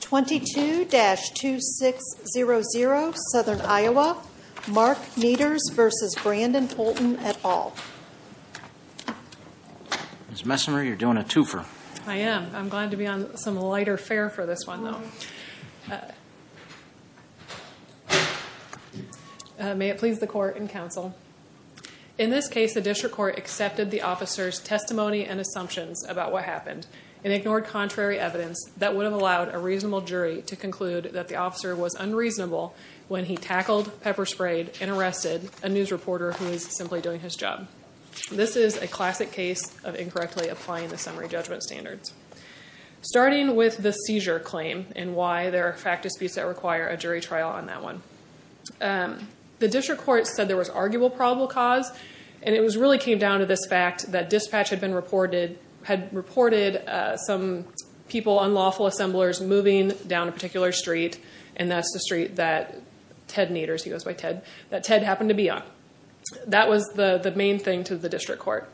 22-2600 Southern Iowa, Mark Nieters v. Brandon Holton et al. Ms. Messonnier, you're doing a twofer. I am. I'm glad to be on some lighter fare for this one, though. May it please the court and counsel. In this case, the district court accepted the officer's testimony and assumptions about what happened and ignored contrary evidence that would have allowed a reasonable jury to conclude that the officer was unreasonable when he tackled, pepper sprayed, and arrested a news reporter who was simply doing his job. This is a classic case of incorrectly applying the summary judgment standards. Starting with the seizure claim and why there are fact disputes that require a jury trial on that one. The district court said there was arguable probable cause, and it really came down to this fact that dispatch had reported some people, unlawful assemblers, moving down a particular street, and that's the street that Ted happened to be on. That was the main thing to the district court.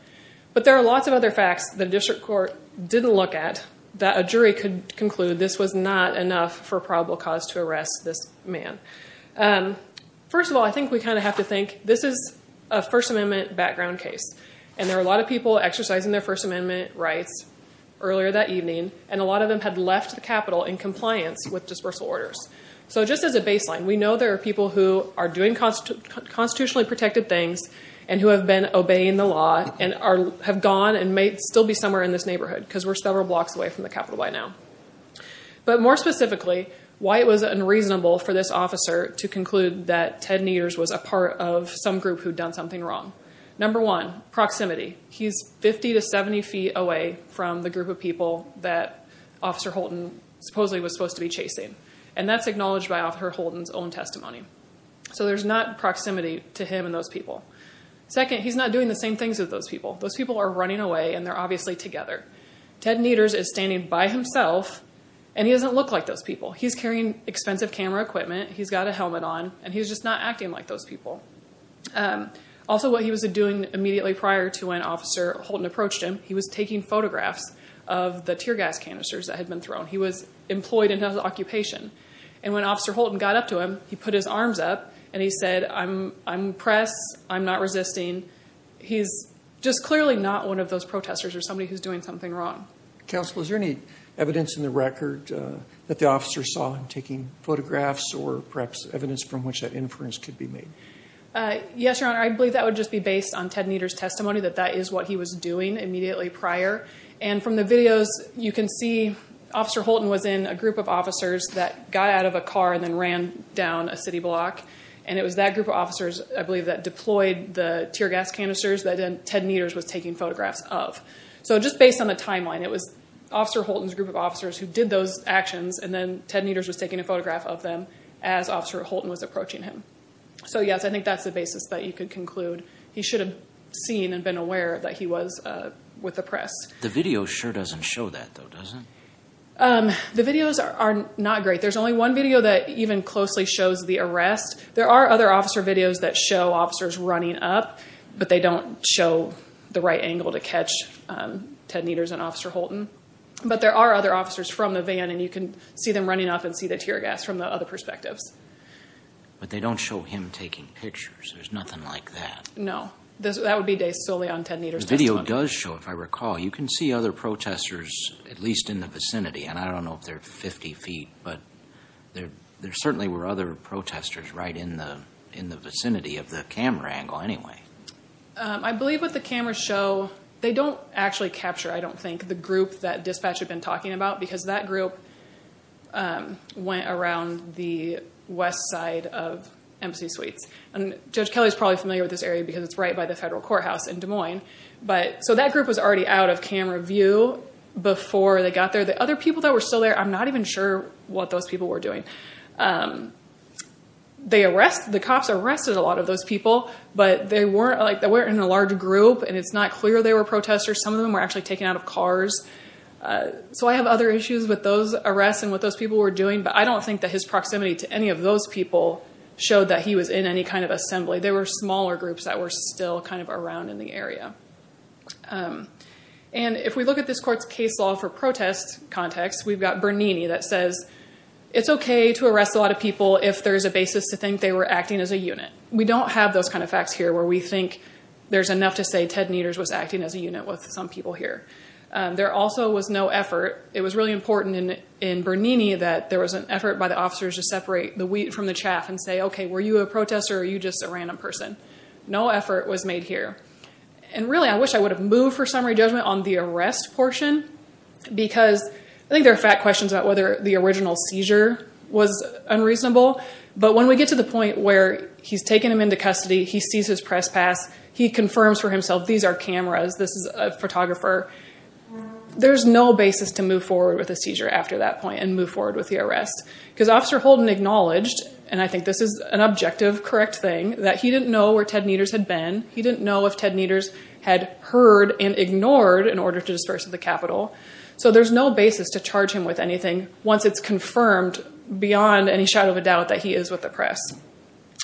But there are lots of other facts the district court didn't look at that a jury could conclude this was not enough for probable cause to arrest this man. First of all, I think we kind of have to think, this is a First Amendment background case, and there are a lot of people exercising their First Amendment rights earlier that evening, and a lot of them had left the Capitol in compliance with dispersal orders. So just as a baseline, we know there are people who are doing constitutionally protected things and who have been obeying the law and have gone and may still be somewhere in this neighborhood because we're several blocks away from the Capitol by now. But more specifically, why it was unreasonable for this officer to conclude that Ted Neters was a part of some group who'd done something wrong. Number one, proximity. He's 50 to 70 feet away from the group of people that Officer Holton supposedly was supposed to be chasing, and that's acknowledged by Officer Holton's own testimony. So there's not proximity to him and those people. Second, he's not doing the same things as those people. Those people are running away, and they're obviously together. Ted Neters is standing by himself, and he doesn't look like those people. He's carrying expensive camera equipment, he's got a helmet on, and he's just not acting like those people. Also, what he was doing immediately prior to when Officer Holton approached him, he was taking photographs of the tear gas canisters that had been thrown. He was employed in his occupation. And when Officer Holton got up to him, he put his arms up, and he said, I'm impressed, I'm not resisting. He's just clearly not one of those protesters or somebody who's doing something wrong. Counsel, is there any evidence in the record that the officer saw him taking photographs or perhaps evidence from which that inference could be made? Yes, Your Honor, I believe that would just be based on Ted Neters' testimony that that is what he was doing immediately prior. And from the videos, you can see Officer Holton was in a group of officers that got out of a car and then ran down a city block. And it was that group of officers, I believe, that deployed the tear gas canisters that Ted Neters was taking photographs of. So just based on the timeline, it was Officer Holton's group of officers who did those actions, and then Ted Neters was taking a photograph of them as Officer Holton was approaching him. So, yes, I think that's the basis that you could conclude he should have seen and been aware that he was with the press. The video sure doesn't show that, though, does it? The videos are not great. There's only one video that even closely shows the arrest. There are other officer videos that show officers running up, but they don't show the right angle to catch Ted Neters and Officer Holton. But there are other officers from the van, and you can see them running up and see the tear gas from the other perspectives. But they don't show him taking pictures. There's nothing like that. No, that would be based solely on Ted Neters' testimony. The video does show, if I recall, you can see other protesters at least in the vicinity, and I don't know if they're 50 feet, but there certainly were other protesters right in the vicinity of the camera angle anyway. I believe what the cameras show, they don't actually capture, I don't think, the group that dispatch had been talking about, because that group went around the west side of Embassy Suites. Judge Kelly is probably familiar with this area because it's right by the federal courthouse in Des Moines, so that group was already out of camera view before they got there. The other people that were still there, I'm not even sure what those people were doing. The cops arrested a lot of those people, but they weren't in a large group, and it's not clear they were protesters. Some of them were actually taken out of cars. So I have other issues with those arrests and what those people were doing, but I don't think that his proximity to any of those people showed that he was in any kind of assembly. They were smaller groups that were still kind of around in the area. And if we look at this court's case law for protest context, we've got Bernini that says it's okay to arrest a lot of people if there's a basis to think they were acting as a unit. We don't have those kind of facts here where we think there's enough to say Ted Neters was acting as a unit with some people here. There also was no effort. It was really important in Bernini that there was an effort by the officers to separate the wheat from the chaff and say, okay, were you a protester or are you just a random person? No effort was made here. And really, I wish I would have moved for summary judgment on the arrest portion because I think there are fat questions about whether the original seizure was unreasonable, but when we get to the point where he's taken him into custody, he sees his press pass, he confirms for himself these are cameras, this is a photographer, there's no basis to move forward with a seizure after that point and move forward with the arrest. Because Officer Holden acknowledged, and I think this is an objective correct thing, that he didn't know where Ted Neters had been. He didn't know if Ted Neters had heard and ignored in order to disperse at the Capitol. So there's no basis to charge him with anything once it's confirmed beyond any shadow of a doubt that he is with the press.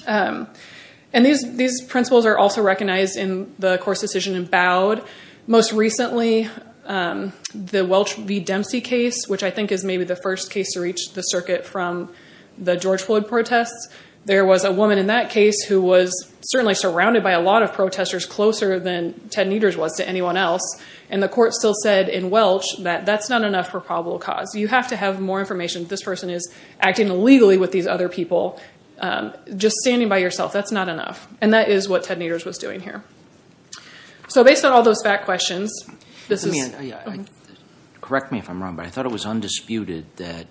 And these principles are also recognized in the course decision in Bowd. Most recently, the Welch v. Dempsey case, which I think is maybe the first case to reach the circuit from the George Floyd protests, there was a woman in that case who was certainly surrounded by a lot of protesters closer than Ted Neters was to anyone else. And the court still said in Welch that that's not enough for probable cause. You have to have more information. This person is acting illegally with these other people. Just standing by yourself, that's not enough. And that is what Ted Neters was doing here. So based on all those fat questions, this is— it was undisputed that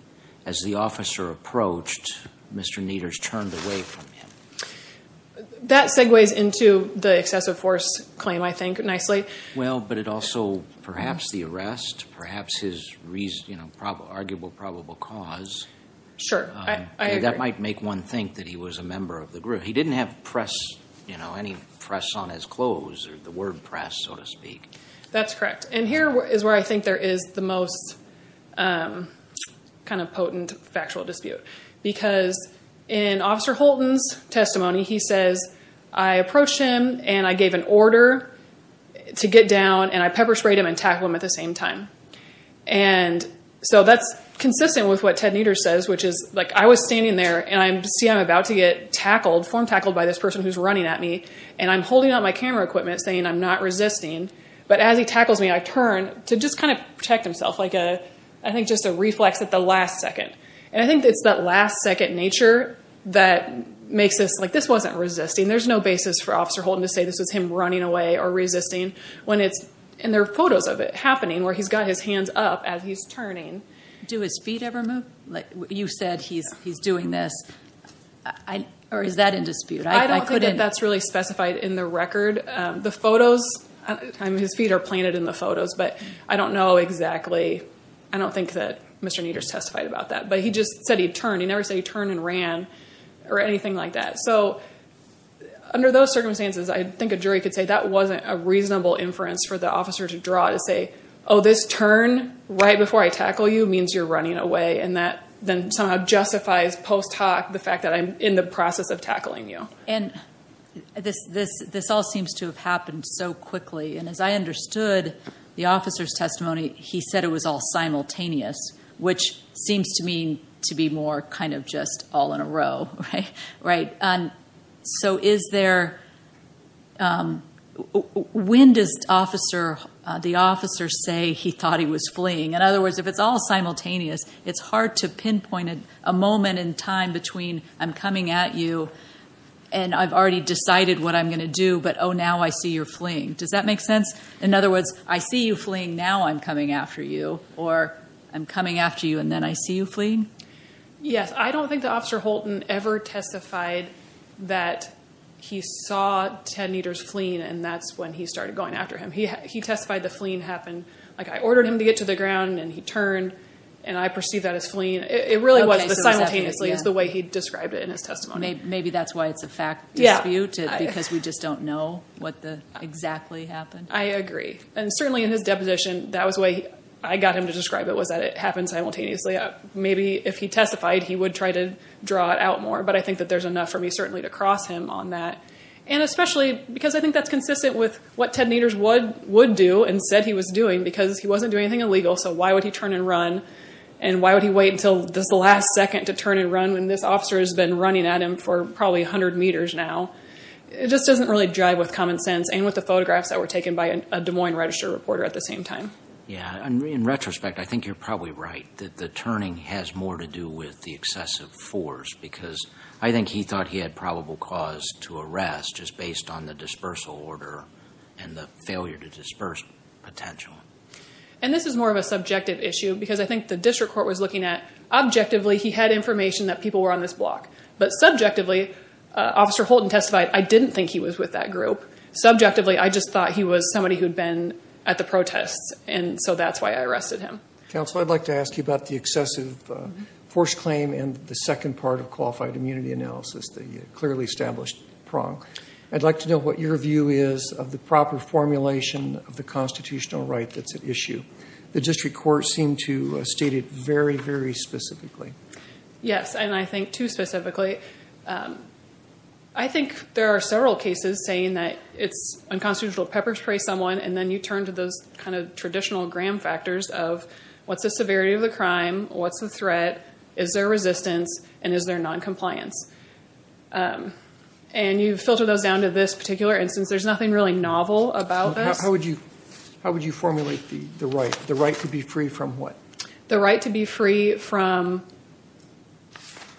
as the officer approached, Mr. Neters turned away from him. That segues into the excessive force claim, I think, nicely. Well, but it also—perhaps the arrest, perhaps his reason—arguable probable cause. Sure, I agree. That might make one think that he was a member of the group. He didn't have press—any press on his clothes or the word press, so to speak. That's correct. And here is where I think there is the most kind of potent factual dispute. Because in Officer Holton's testimony, he says, I approached him and I gave an order to get down, and I pepper sprayed him and tackled him at the same time. And so that's consistent with what Ted Neters says, which is, like, I was standing there, and I see I'm about to get tackled, form-tackled by this person who's running at me, and I'm holding out my camera equipment, saying I'm not resisting. But as he tackles me, I turn to just kind of protect himself, like a—I think just a reflex at the last second. And I think it's that last-second nature that makes us, like, this wasn't resisting. There's no basis for Officer Holton to say this was him running away or resisting when it's— and there are photos of it happening where he's got his hands up as he's turning. Do his feet ever move? Like, you said he's doing this. Or is that in dispute? I don't think that that's really specified in the record. The photos—his feet are planted in the photos, but I don't know exactly. I don't think that Mr. Neters testified about that. But he just said he turned. He never said he turned and ran or anything like that. So under those circumstances, I think a jury could say that wasn't a reasonable inference for the officer to draw, to say, oh, this turn right before I tackle you means you're running away, and that then somehow justifies post hoc the fact that I'm in the process of tackling you. And this all seems to have happened so quickly. And as I understood the officer's testimony, he said it was all simultaneous, which seems to me to be more kind of just all in a row, right? So is there—when does the officer say he thought he was fleeing? In other words, if it's all simultaneous, it's hard to pinpoint a moment in time between I'm coming at you and I've already decided what I'm going to do, but, oh, now I see you're fleeing. Does that make sense? In other words, I see you fleeing, now I'm coming after you, or I'm coming after you and then I see you fleeing? Yes. I don't think the officer Holton ever testified that he saw Ted Neters fleeing, and that's when he started going after him. He testified the fleeing happened. Like I ordered him to get to the ground and he turned and I perceived that as fleeing. It really was the simultaneously is the way he described it in his testimony. Maybe that's why it's a fact dispute because we just don't know what exactly happened. I agree. And certainly in his deposition, that was the way I got him to describe it was that it happened simultaneously. Maybe if he testified, he would try to draw it out more, but I think that there's enough for me certainly to cross him on that. And especially because I think that's consistent with what Ted Neters would do and said he was doing because he wasn't doing anything illegal, so why would he turn and run? And why would he wait until this last second to turn and run when this officer has been running at him for probably 100 meters now? It just doesn't really jive with common sense and with the photographs that were taken by a Des Moines Register reporter at the same time. Yeah, and in retrospect, I think you're probably right that the turning has more to do with the excessive force because I think he thought he had probable cause to arrest just based on the dispersal order and the failure to disperse potential. And this is more of a subjective issue because I think the district court was looking at, objectively, he had information that people were on this block, but subjectively, Officer Holton testified, I didn't think he was with that group. Subjectively, I just thought he was somebody who had been at the protests, and so that's why I arrested him. Counsel, I'd like to ask you about the excessive force claim and the second part of qualified immunity analysis, the clearly established prong. I'd like to know what your view is of the proper formulation of the constitutional right that's at issue. The district court seemed to state it very, very specifically. Yes, and I think too specifically. I think there are several cases saying that it's unconstitutional to pepper spray someone and then you turn to those kind of traditional gram factors of what's the severity of the crime, what's the threat, is there resistance, and is there noncompliance? And you filter those down to this particular instance. There's nothing really novel about this. How would you formulate the right? The right to be free from what? The right to be free from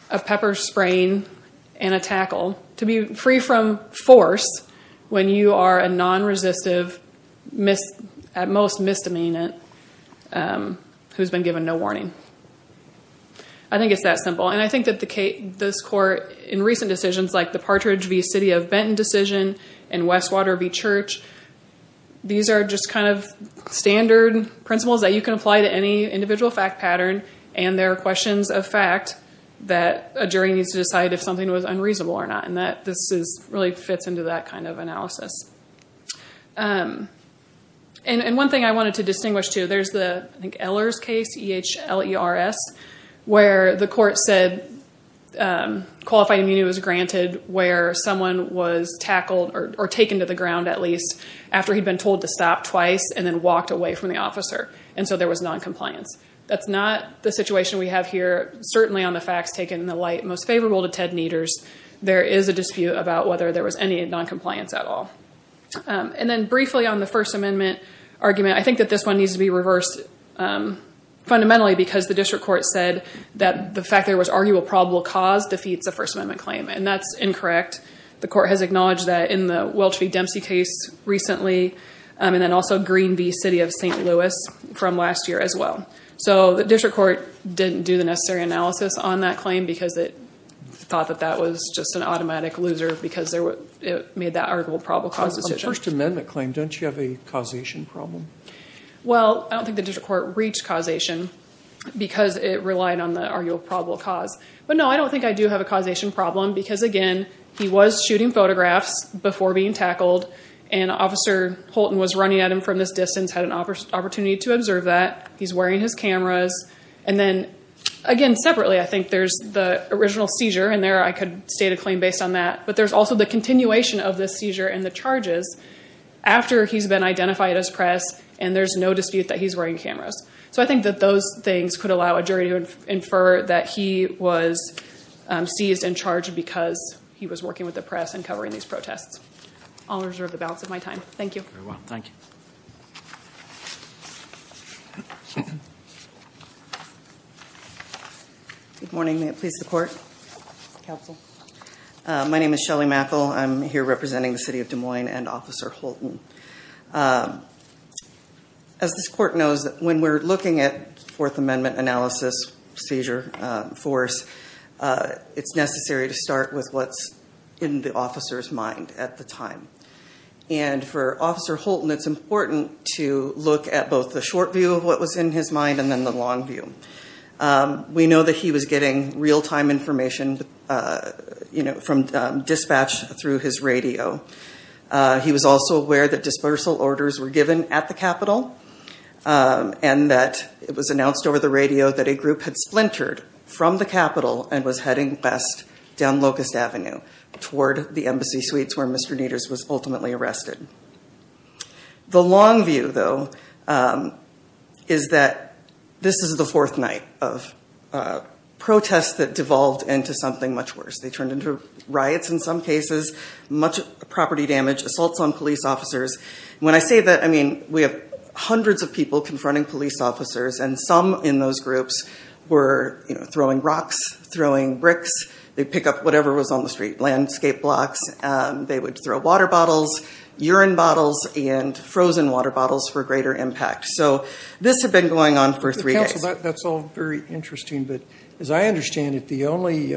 a pepper spraying and a tackle, to be free from force when you are a non-resistive, at most misdemeanant, who's been given no warning. I think it's that simple. And I think that this court, in recent decisions like the Partridge v. City of Benton decision and Westwater v. Church, these are just kind of standard principles that you can apply to any individual fact pattern, and there are questions of fact that a jury needs to decide if something was unreasonable or not, and this really fits into that kind of analysis. And one thing I wanted to distinguish, too, there's the Ehlers case, E-H-L-E-R-S, where the court said qualified immunity was granted where someone was tackled or taken to the ground at least after he'd been told to stop twice and then walked away from the officer, and so there was noncompliance. That's not the situation we have here. Certainly on the facts taken in the light most favorable to Ted Neters, there is a dispute about whether there was any noncompliance at all. And then briefly on the First Amendment argument, I think that this one needs to be reversed fundamentally because the district court said that the fact there was arguable probable cause defeats the First Amendment claim, and that's incorrect. The court has acknowledged that in the Welch v. Dempsey case recently and then also Green v. City of St. Louis from last year as well. So the district court didn't do the necessary analysis on that claim because it thought that that was just an automatic loser because it made that arguable probable cause decision. On the First Amendment claim, don't you have a causation problem? Well, I don't think the district court reached causation because it relied on the arguable probable cause. But, no, I don't think I do have a causation problem because, again, he was shooting photographs before being tackled, and Officer Holton was running at him from this distance, had an opportunity to observe that. He's wearing his cameras. And then, again, separately, I think there's the original seizure in there. I could state a claim based on that. But there's also the continuation of the seizure and the charges after he's been identified as press and there's no dispute that he's wearing cameras. So I think that those things could allow a jury to infer that he was seized and charged because he was working with the press and covering these protests. I'll reserve the balance of my time. Thank you. Thank you very much. Thank you. Good morning. May it please the Court? Counsel. My name is Shelley Mackel. I'm here representing the City of Des Moines and Officer Holton. As this Court knows, when we're looking at Fourth Amendment analysis, seizure, force, it's necessary to start with what's in the officer's mind at the time. And for Officer Holton, it's important to look at both the short view of what was in his mind and then the long view. We know that he was getting real-time information from dispatch through his radio. He was also aware that dispersal orders were given at the Capitol and that it was announced over the radio that a group had splintered from the Capitol and was heading west down Locust Avenue toward the embassy suites where Mr. Naders was ultimately arrested. The long view, though, is that this is the fourth night of protests that devolved into something much worse. They turned into riots in some cases, much property damage, assaults on police officers. When I say that, I mean we have hundreds of people confronting police officers and some in those groups were throwing rocks, throwing bricks. They'd pick up whatever was on the street, landscape blocks. They would throw water bottles, urine bottles, and frozen water bottles for greater impact. So this had been going on for three days. Counsel, that's all very interesting, but as I understand it, the only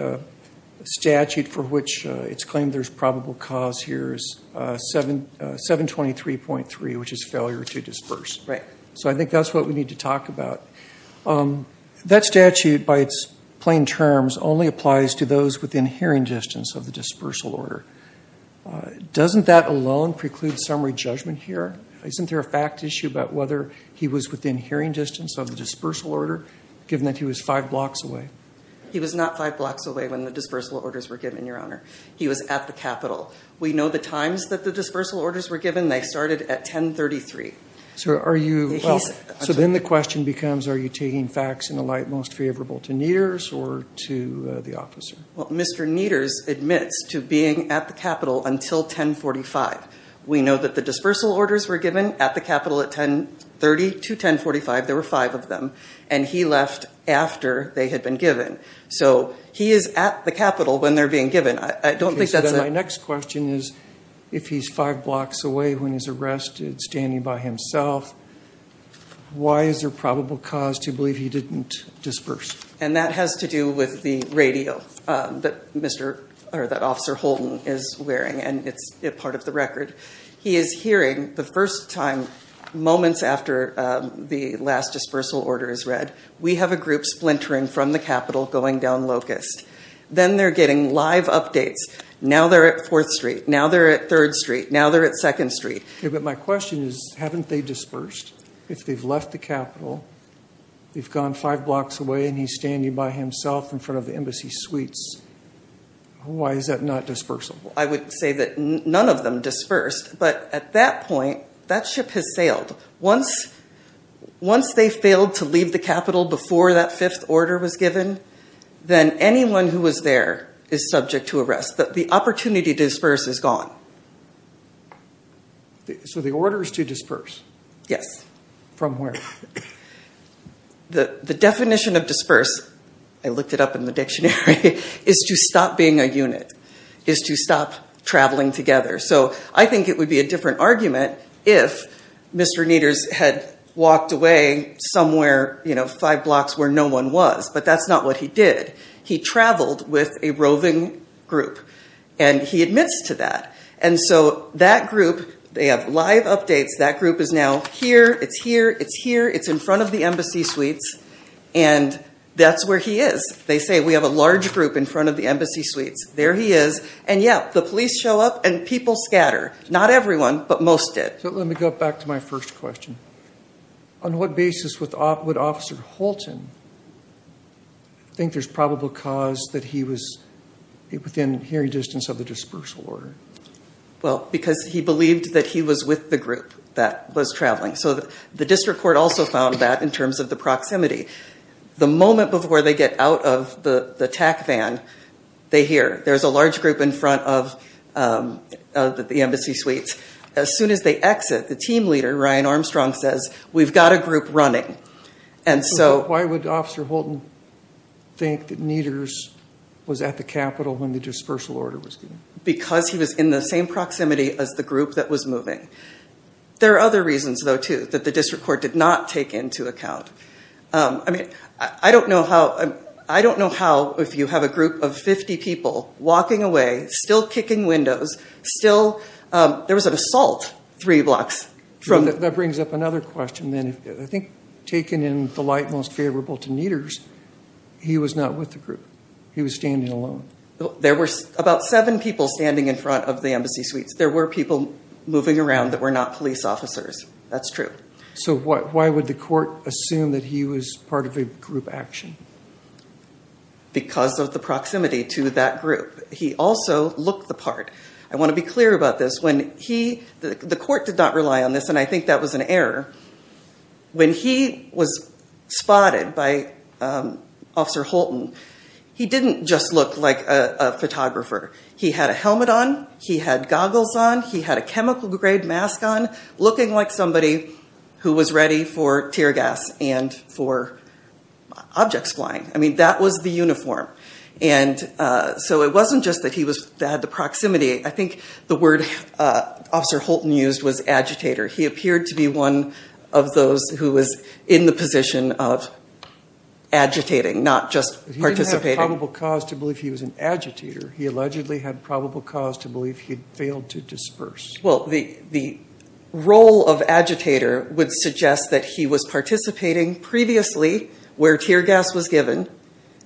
statute for which it's claimed there's probable cause here is 723.3, which is failure to disperse. Right. So I think that's what we need to talk about. That statute, by its plain terms, only applies to those within hearing distance of the dispersal order. Doesn't that alone preclude summary judgment here? Isn't there a fact issue about whether he was within hearing distance of the dispersal order, given that he was five blocks away? He was not five blocks away when the dispersal orders were given, Your Honor. He was at the Capitol. We know the times that the dispersal orders were given. They started at 1033. So then the question becomes, are you taking facts in a light most favorable to Neters or to the officer? Mr. Neters admits to being at the Capitol until 1045. We know that the dispersal orders were given at the Capitol at 1030 to 1045. There were five of them. And he left after they had been given. So he is at the Capitol when they're being given. My next question is, if he's five blocks away when he's arrested, standing by himself, why is there probable cause to believe he didn't disperse? And that has to do with the radio that Officer Holton is wearing, and it's part of the record. He is hearing the first time, moments after the last dispersal order is read, we have a group splintering from the Capitol going down Locust. Then they're getting live updates. Now they're at 4th Street. Now they're at 3rd Street. Now they're at 2nd Street. But my question is, haven't they dispersed? If they've left the Capitol, they've gone five blocks away, and he's standing by himself in front of the embassy suites. Why is that not dispersal? I would say that none of them dispersed. But at that point, that ship has sailed. Once they failed to leave the Capitol before that fifth order was given, then anyone who was there is subject to arrest. The opportunity to disperse is gone. So the order is to disperse? Yes. From where? The definition of disperse, I looked it up in the dictionary, is to stop being a unit, is to stop traveling together. So I think it would be a different argument if Mr. Neters had walked away somewhere five blocks where no one was. But that's not what he did. He traveled with a roving group. And he admits to that. And so that group, they have live updates. That group is now here. It's here. It's here. It's in front of the embassy suites. And that's where he is. They say, we have a large group in front of the embassy suites. There he is. And, yeah, the police show up and people scatter. Not everyone, but most did. So let me go back to my first question. On what basis would Officer Holton think there's probable cause that he was within hearing distance of the dispersal order? Well, because he believed that he was with the group that was traveling. So the district court also found that in terms of the proximity. The moment before they get out of the TAC van, they hear. There's a large group in front of the embassy suites. As soon as they exit, the team leader, Ryan Armstrong, says, we've got a group running. And so. Why would Officer Holton think that Needers was at the Capitol when the dispersal order was given? Because he was in the same proximity as the group that was moving. There are other reasons, though, too, that the district court did not take into account. I mean, I don't know how. I don't know how if you have a group of 50 people walking away, still kicking windows, still. There was an assault three blocks from. That brings up another question. I think taken in the light most favorable to Needers, he was not with the group. He was standing alone. There were about seven people standing in front of the embassy suites. There were people moving around that were not police officers. That's true. So why would the court assume that he was part of a group action? Because of the proximity to that group. He also looked the part. I want to be clear about this. The court did not rely on this, and I think that was an error. When he was spotted by Officer Holton, he didn't just look like a photographer. He had a helmet on. He had goggles on. He had a chemical grade mask on, looking like somebody who was ready for tear gas and for objects flying. I mean, that was the uniform. And so it wasn't just that he had the proximity. I think the word Officer Holton used was agitator. He appeared to be one of those who was in the position of agitating, not just participating. He didn't have probable cause to believe he was an agitator. He allegedly had probable cause to believe he had failed to disperse. Well, the role of agitator would suggest that he was participating previously where tear gas was given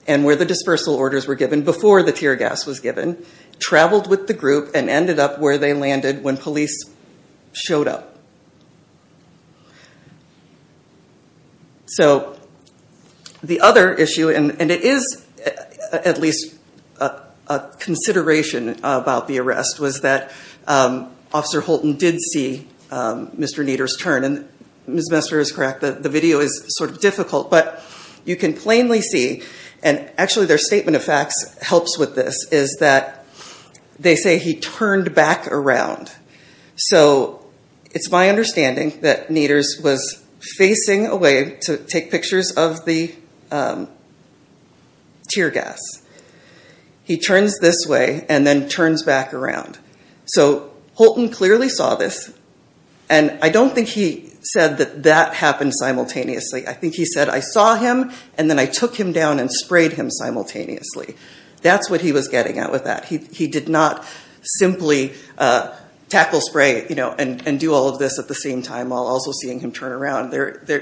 and where the dispersal orders were given before the tear gas was given, traveled with the group, and ended up where they landed when police showed up. So the other issue, and it is at least a consideration about the arrest, was that Officer Holton did see Mr. Nieder's turn. And Ms. Messer is correct, the video is sort of difficult, but you can plainly see, and actually their statement of facts helps with this, is that they say he turned back around. So it's my understanding that Nieder's was facing away to take pictures of the tear gas. He turns this way and then turns back around. So Holton clearly saw this, and I don't think he said that that happened simultaneously. I think he said, I saw him and then I took him down and sprayed him simultaneously. That's what he was getting at with that. He did not simply tackle spray and do all of this at the same time while also seeing him turn around.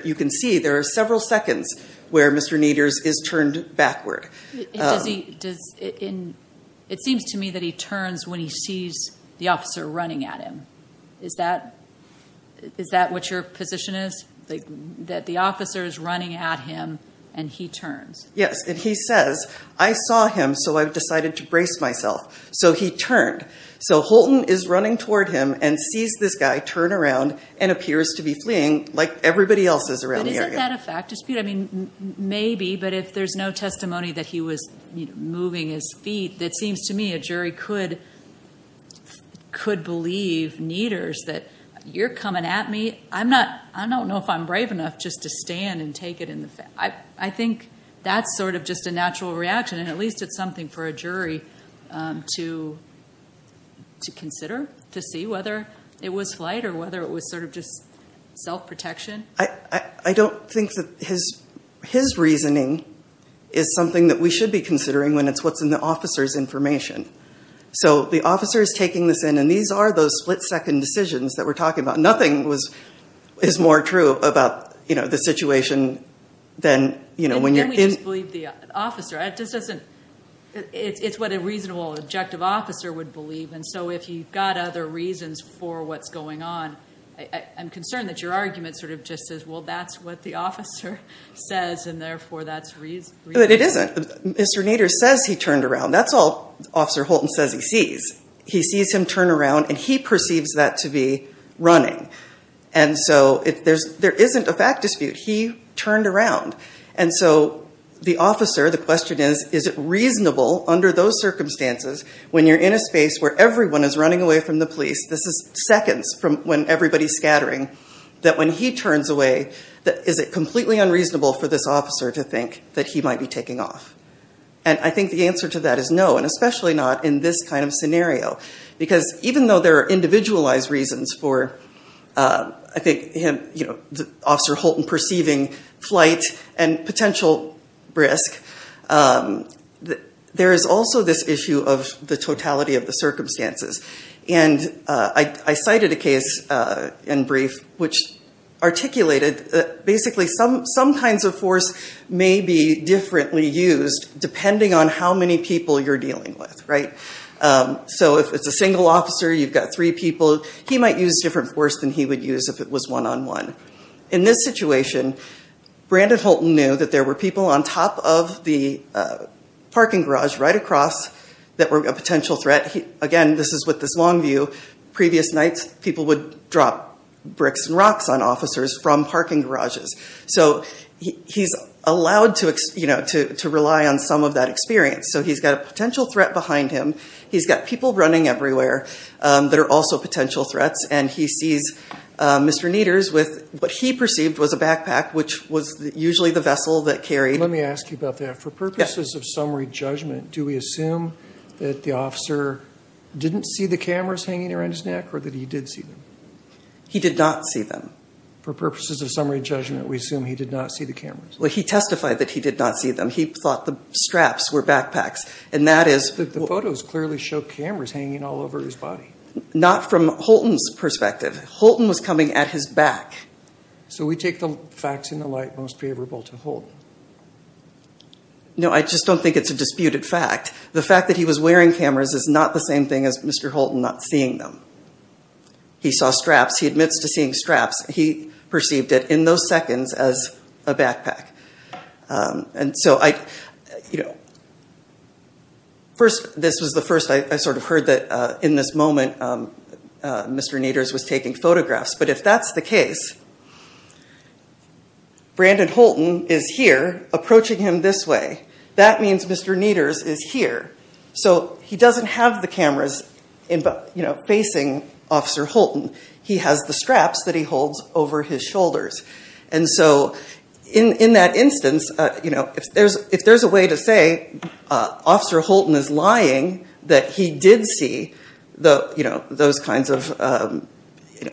You can see there are several seconds where Mr. Nieder's is turned backward. It seems to me that he turns when he sees the officer running at him. Is that what your position is, that the officer is running at him and he turns? Yes, and he says, I saw him so I decided to brace myself. So he turned. So Holton is running toward him and sees this guy turn around and appears to be fleeing like everybody else is around the area. But isn't that a fact dispute? I mean, maybe, but if there's no testimony that he was moving his feet, it seems to me a jury could believe Nieder's that you're coming at me. I don't know if I'm brave enough just to stand and take it in the face. I think that's sort of just a natural reaction, and at least it's something for a jury to consider, to see whether it was flight or whether it was sort of just self-protection. I don't think that his reasoning is something that we should be considering when it's what's in the officer's information. So the officer is taking this in, and these are those split-second decisions that we're talking about. Nothing is more true about the situation than when you're in. Then we just believe the officer. It's what a reasonable, objective officer would believe. And so if you've got other reasons for what's going on, I'm concerned that your argument sort of just says, well, that's what the officer says, and therefore that's reasonable. But it isn't. Mr. Nieder says he turned around. That's all Officer Holton says he sees. He sees him turn around, and he perceives that to be running. And so there isn't a fact dispute. He turned around. And so the officer, the question is, is it reasonable under those circumstances, when you're in a space where everyone is running away from the police, this is seconds from when everybody's scattering, that when he turns away, is it completely unreasonable for this officer to think that he might be taking off? And I think the answer to that is no, and especially not in this kind of scenario. Because even though there are individualized reasons for, I think, Officer Holton perceiving flight and potential risk, there is also this issue of the totality of the circumstances. And I cited a case in brief which articulated basically some kinds of force may be differently used, depending on how many people you're dealing with, right? So if it's a single officer, you've got three people, he might use different force than he would use if it was one-on-one. In this situation, Brandon Holton knew that there were people on top of the parking garage right across that were a potential threat. Again, this is with this long view. Previous nights, people would drop bricks and rocks on officers from parking garages. So he's allowed to rely on some of that experience. So he's got a potential threat behind him. He's got people running everywhere that are also potential threats. And he sees Mr. Neters with what he perceived was a backpack, which was usually the vessel that carried... Let me ask you about that. For purposes of summary judgment, do we assume that the officer didn't see the cameras hanging around his neck or that he did see them? He did not see them. For purposes of summary judgment, we assume he did not see the cameras. Well, he testified that he did not see them. He thought the straps were backpacks, and that is... But the photos clearly show cameras hanging all over his body. Not from Holton's perspective. Holton was coming at his back. So we take the facts in the light most favorable to Holton. No, I just don't think it's a disputed fact. The fact that he was wearing cameras is not the same thing as Mr. Holton not seeing them. He saw straps. He admits to seeing straps. He perceived it in those seconds as a backpack. And so I, you know... First, this was the first I sort of heard that in this moment, Mr. Neters was taking photographs. But if that's the case, Brandon Holton is here approaching him this way. That means Mr. Neters is here. So he doesn't have the cameras facing Officer Holton. He has the straps that he holds over his shoulders. And so in that instance, if there's a way to say Officer Holton is lying, that he did see those kinds of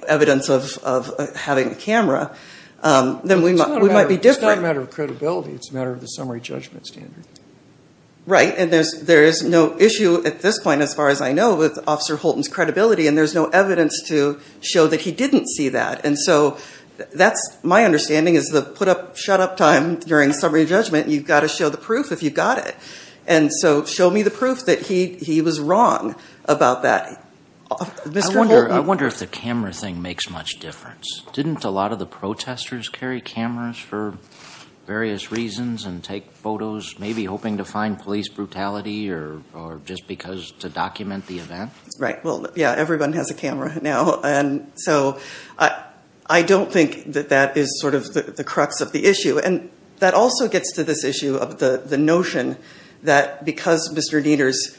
evidence of having a camera, then we might be different. It's not a matter of credibility. It's a matter of the summary judgment standard. Right. And there is no issue at this point, as far as I know, with Officer Holton's credibility. And there's no evidence to show that he didn't see that. And so that's my understanding is the put-up-shut-up time during summary judgment, you've got to show the proof if you've got it. And so show me the proof that he was wrong about that. Mr. Holton. I wonder if the camera thing makes much difference. Didn't a lot of the protesters carry cameras for various reasons and take photos, maybe hoping to find police brutality or just because to document the event? Right. Well, yeah, everyone has a camera now. And so I don't think that that is sort of the crux of the issue. And that also gets to this issue of the notion that because Mr. Dieters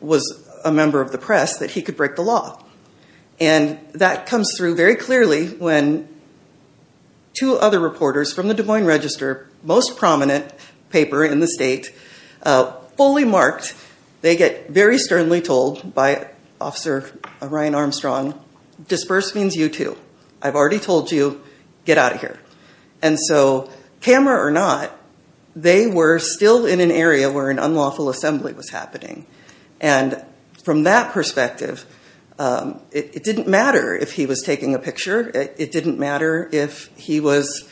was a member of the press, that he could break the law. And that comes through very clearly when two other reporters from the Des Moines Register, most prominent paper in the state, fully marked. They get very sternly told by Officer Ryan Armstrong, disperse means you too. I've already told you, get out of here. And so camera or not, they were still in an area where an unlawful assembly was happening. And from that perspective, it didn't matter if he was taking a picture. It didn't matter if he was,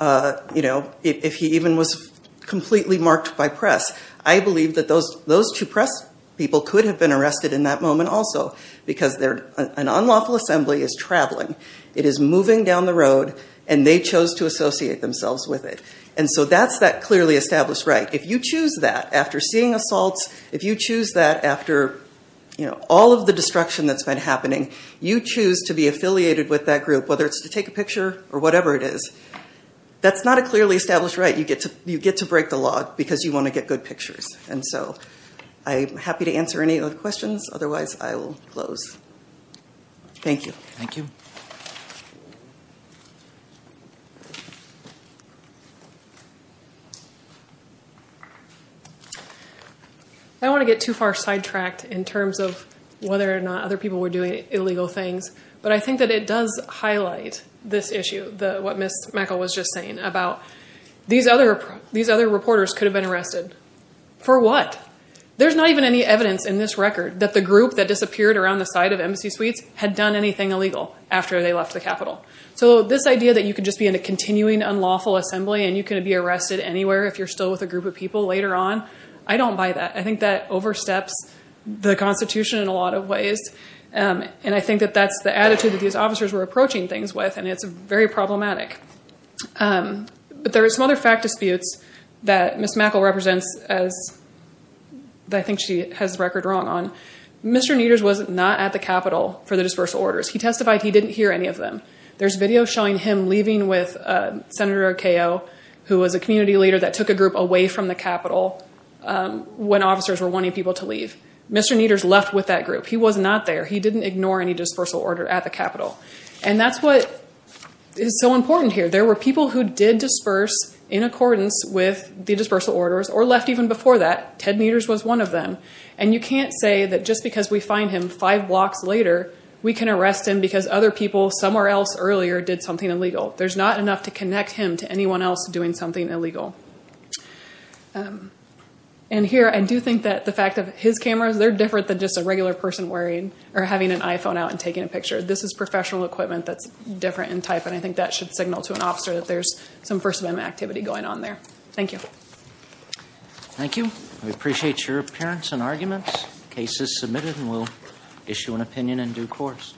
you know, if he even was completely marked by press. I believe that those two press people could have been arrested in that moment also because an unlawful assembly is traveling. It is moving down the road and they chose to associate themselves with it. And so that's that clearly established right. If you choose that after seeing assaults, if you choose that after all of the destruction that's been happening, you choose to be affiliated with that group, whether it's to take a picture or whatever it is. That's not a clearly established right. You get to break the law because you want to get good pictures. And so I'm happy to answer any other questions. Otherwise, I will close. Thank you. Thank you. I don't want to get too far sidetracked in terms of whether or not other people were doing illegal things. But I think that it does highlight this issue, what Ms. Mechel was just saying about these other reporters could have been arrested. For what? There's not even any evidence in this record that the group that disappeared around the side of Embassy Suites had done anything illegal after they left the Capitol. So this idea that you could just be in a continuing unlawful assembly and you could be arrested anywhere if you're still with a group of people later on, I don't buy that. I think that oversteps the Constitution in a lot of ways. And I think that that's the attitude that these officers were approaching things with. And it's very problematic. But there are some other fact disputes that Ms. Mechel represents that I think she has the record wrong on. Mr. Neters was not at the Capitol for the dispersal orders. He testified he didn't hear any of them. There's video showing him leaving with Senator Keogh, who was a community leader that took a group away from the Capitol when officers were wanting people to leave. Mr. Neters left with that group. He was not there. He didn't ignore any dispersal order at the Capitol. And that's what is so important here. There were people who did disperse in accordance with the dispersal orders or left even before that. Ted Neters was one of them. And you can't say that just because we find him five blocks later, we can arrest him because other people somewhere else earlier did something illegal. There's not enough to connect him to anyone else doing something illegal. And here, I do think that the fact that his cameras, they're different than just a regular person wearing or having an iPhone out and taking a picture. This is professional equipment that's different in type, and I think that should signal to an officer that there's some first amendment activity going on there. Thank you. Thank you. We appreciate your appearance and arguments. Case is submitted, and we'll issue an opinion in due course.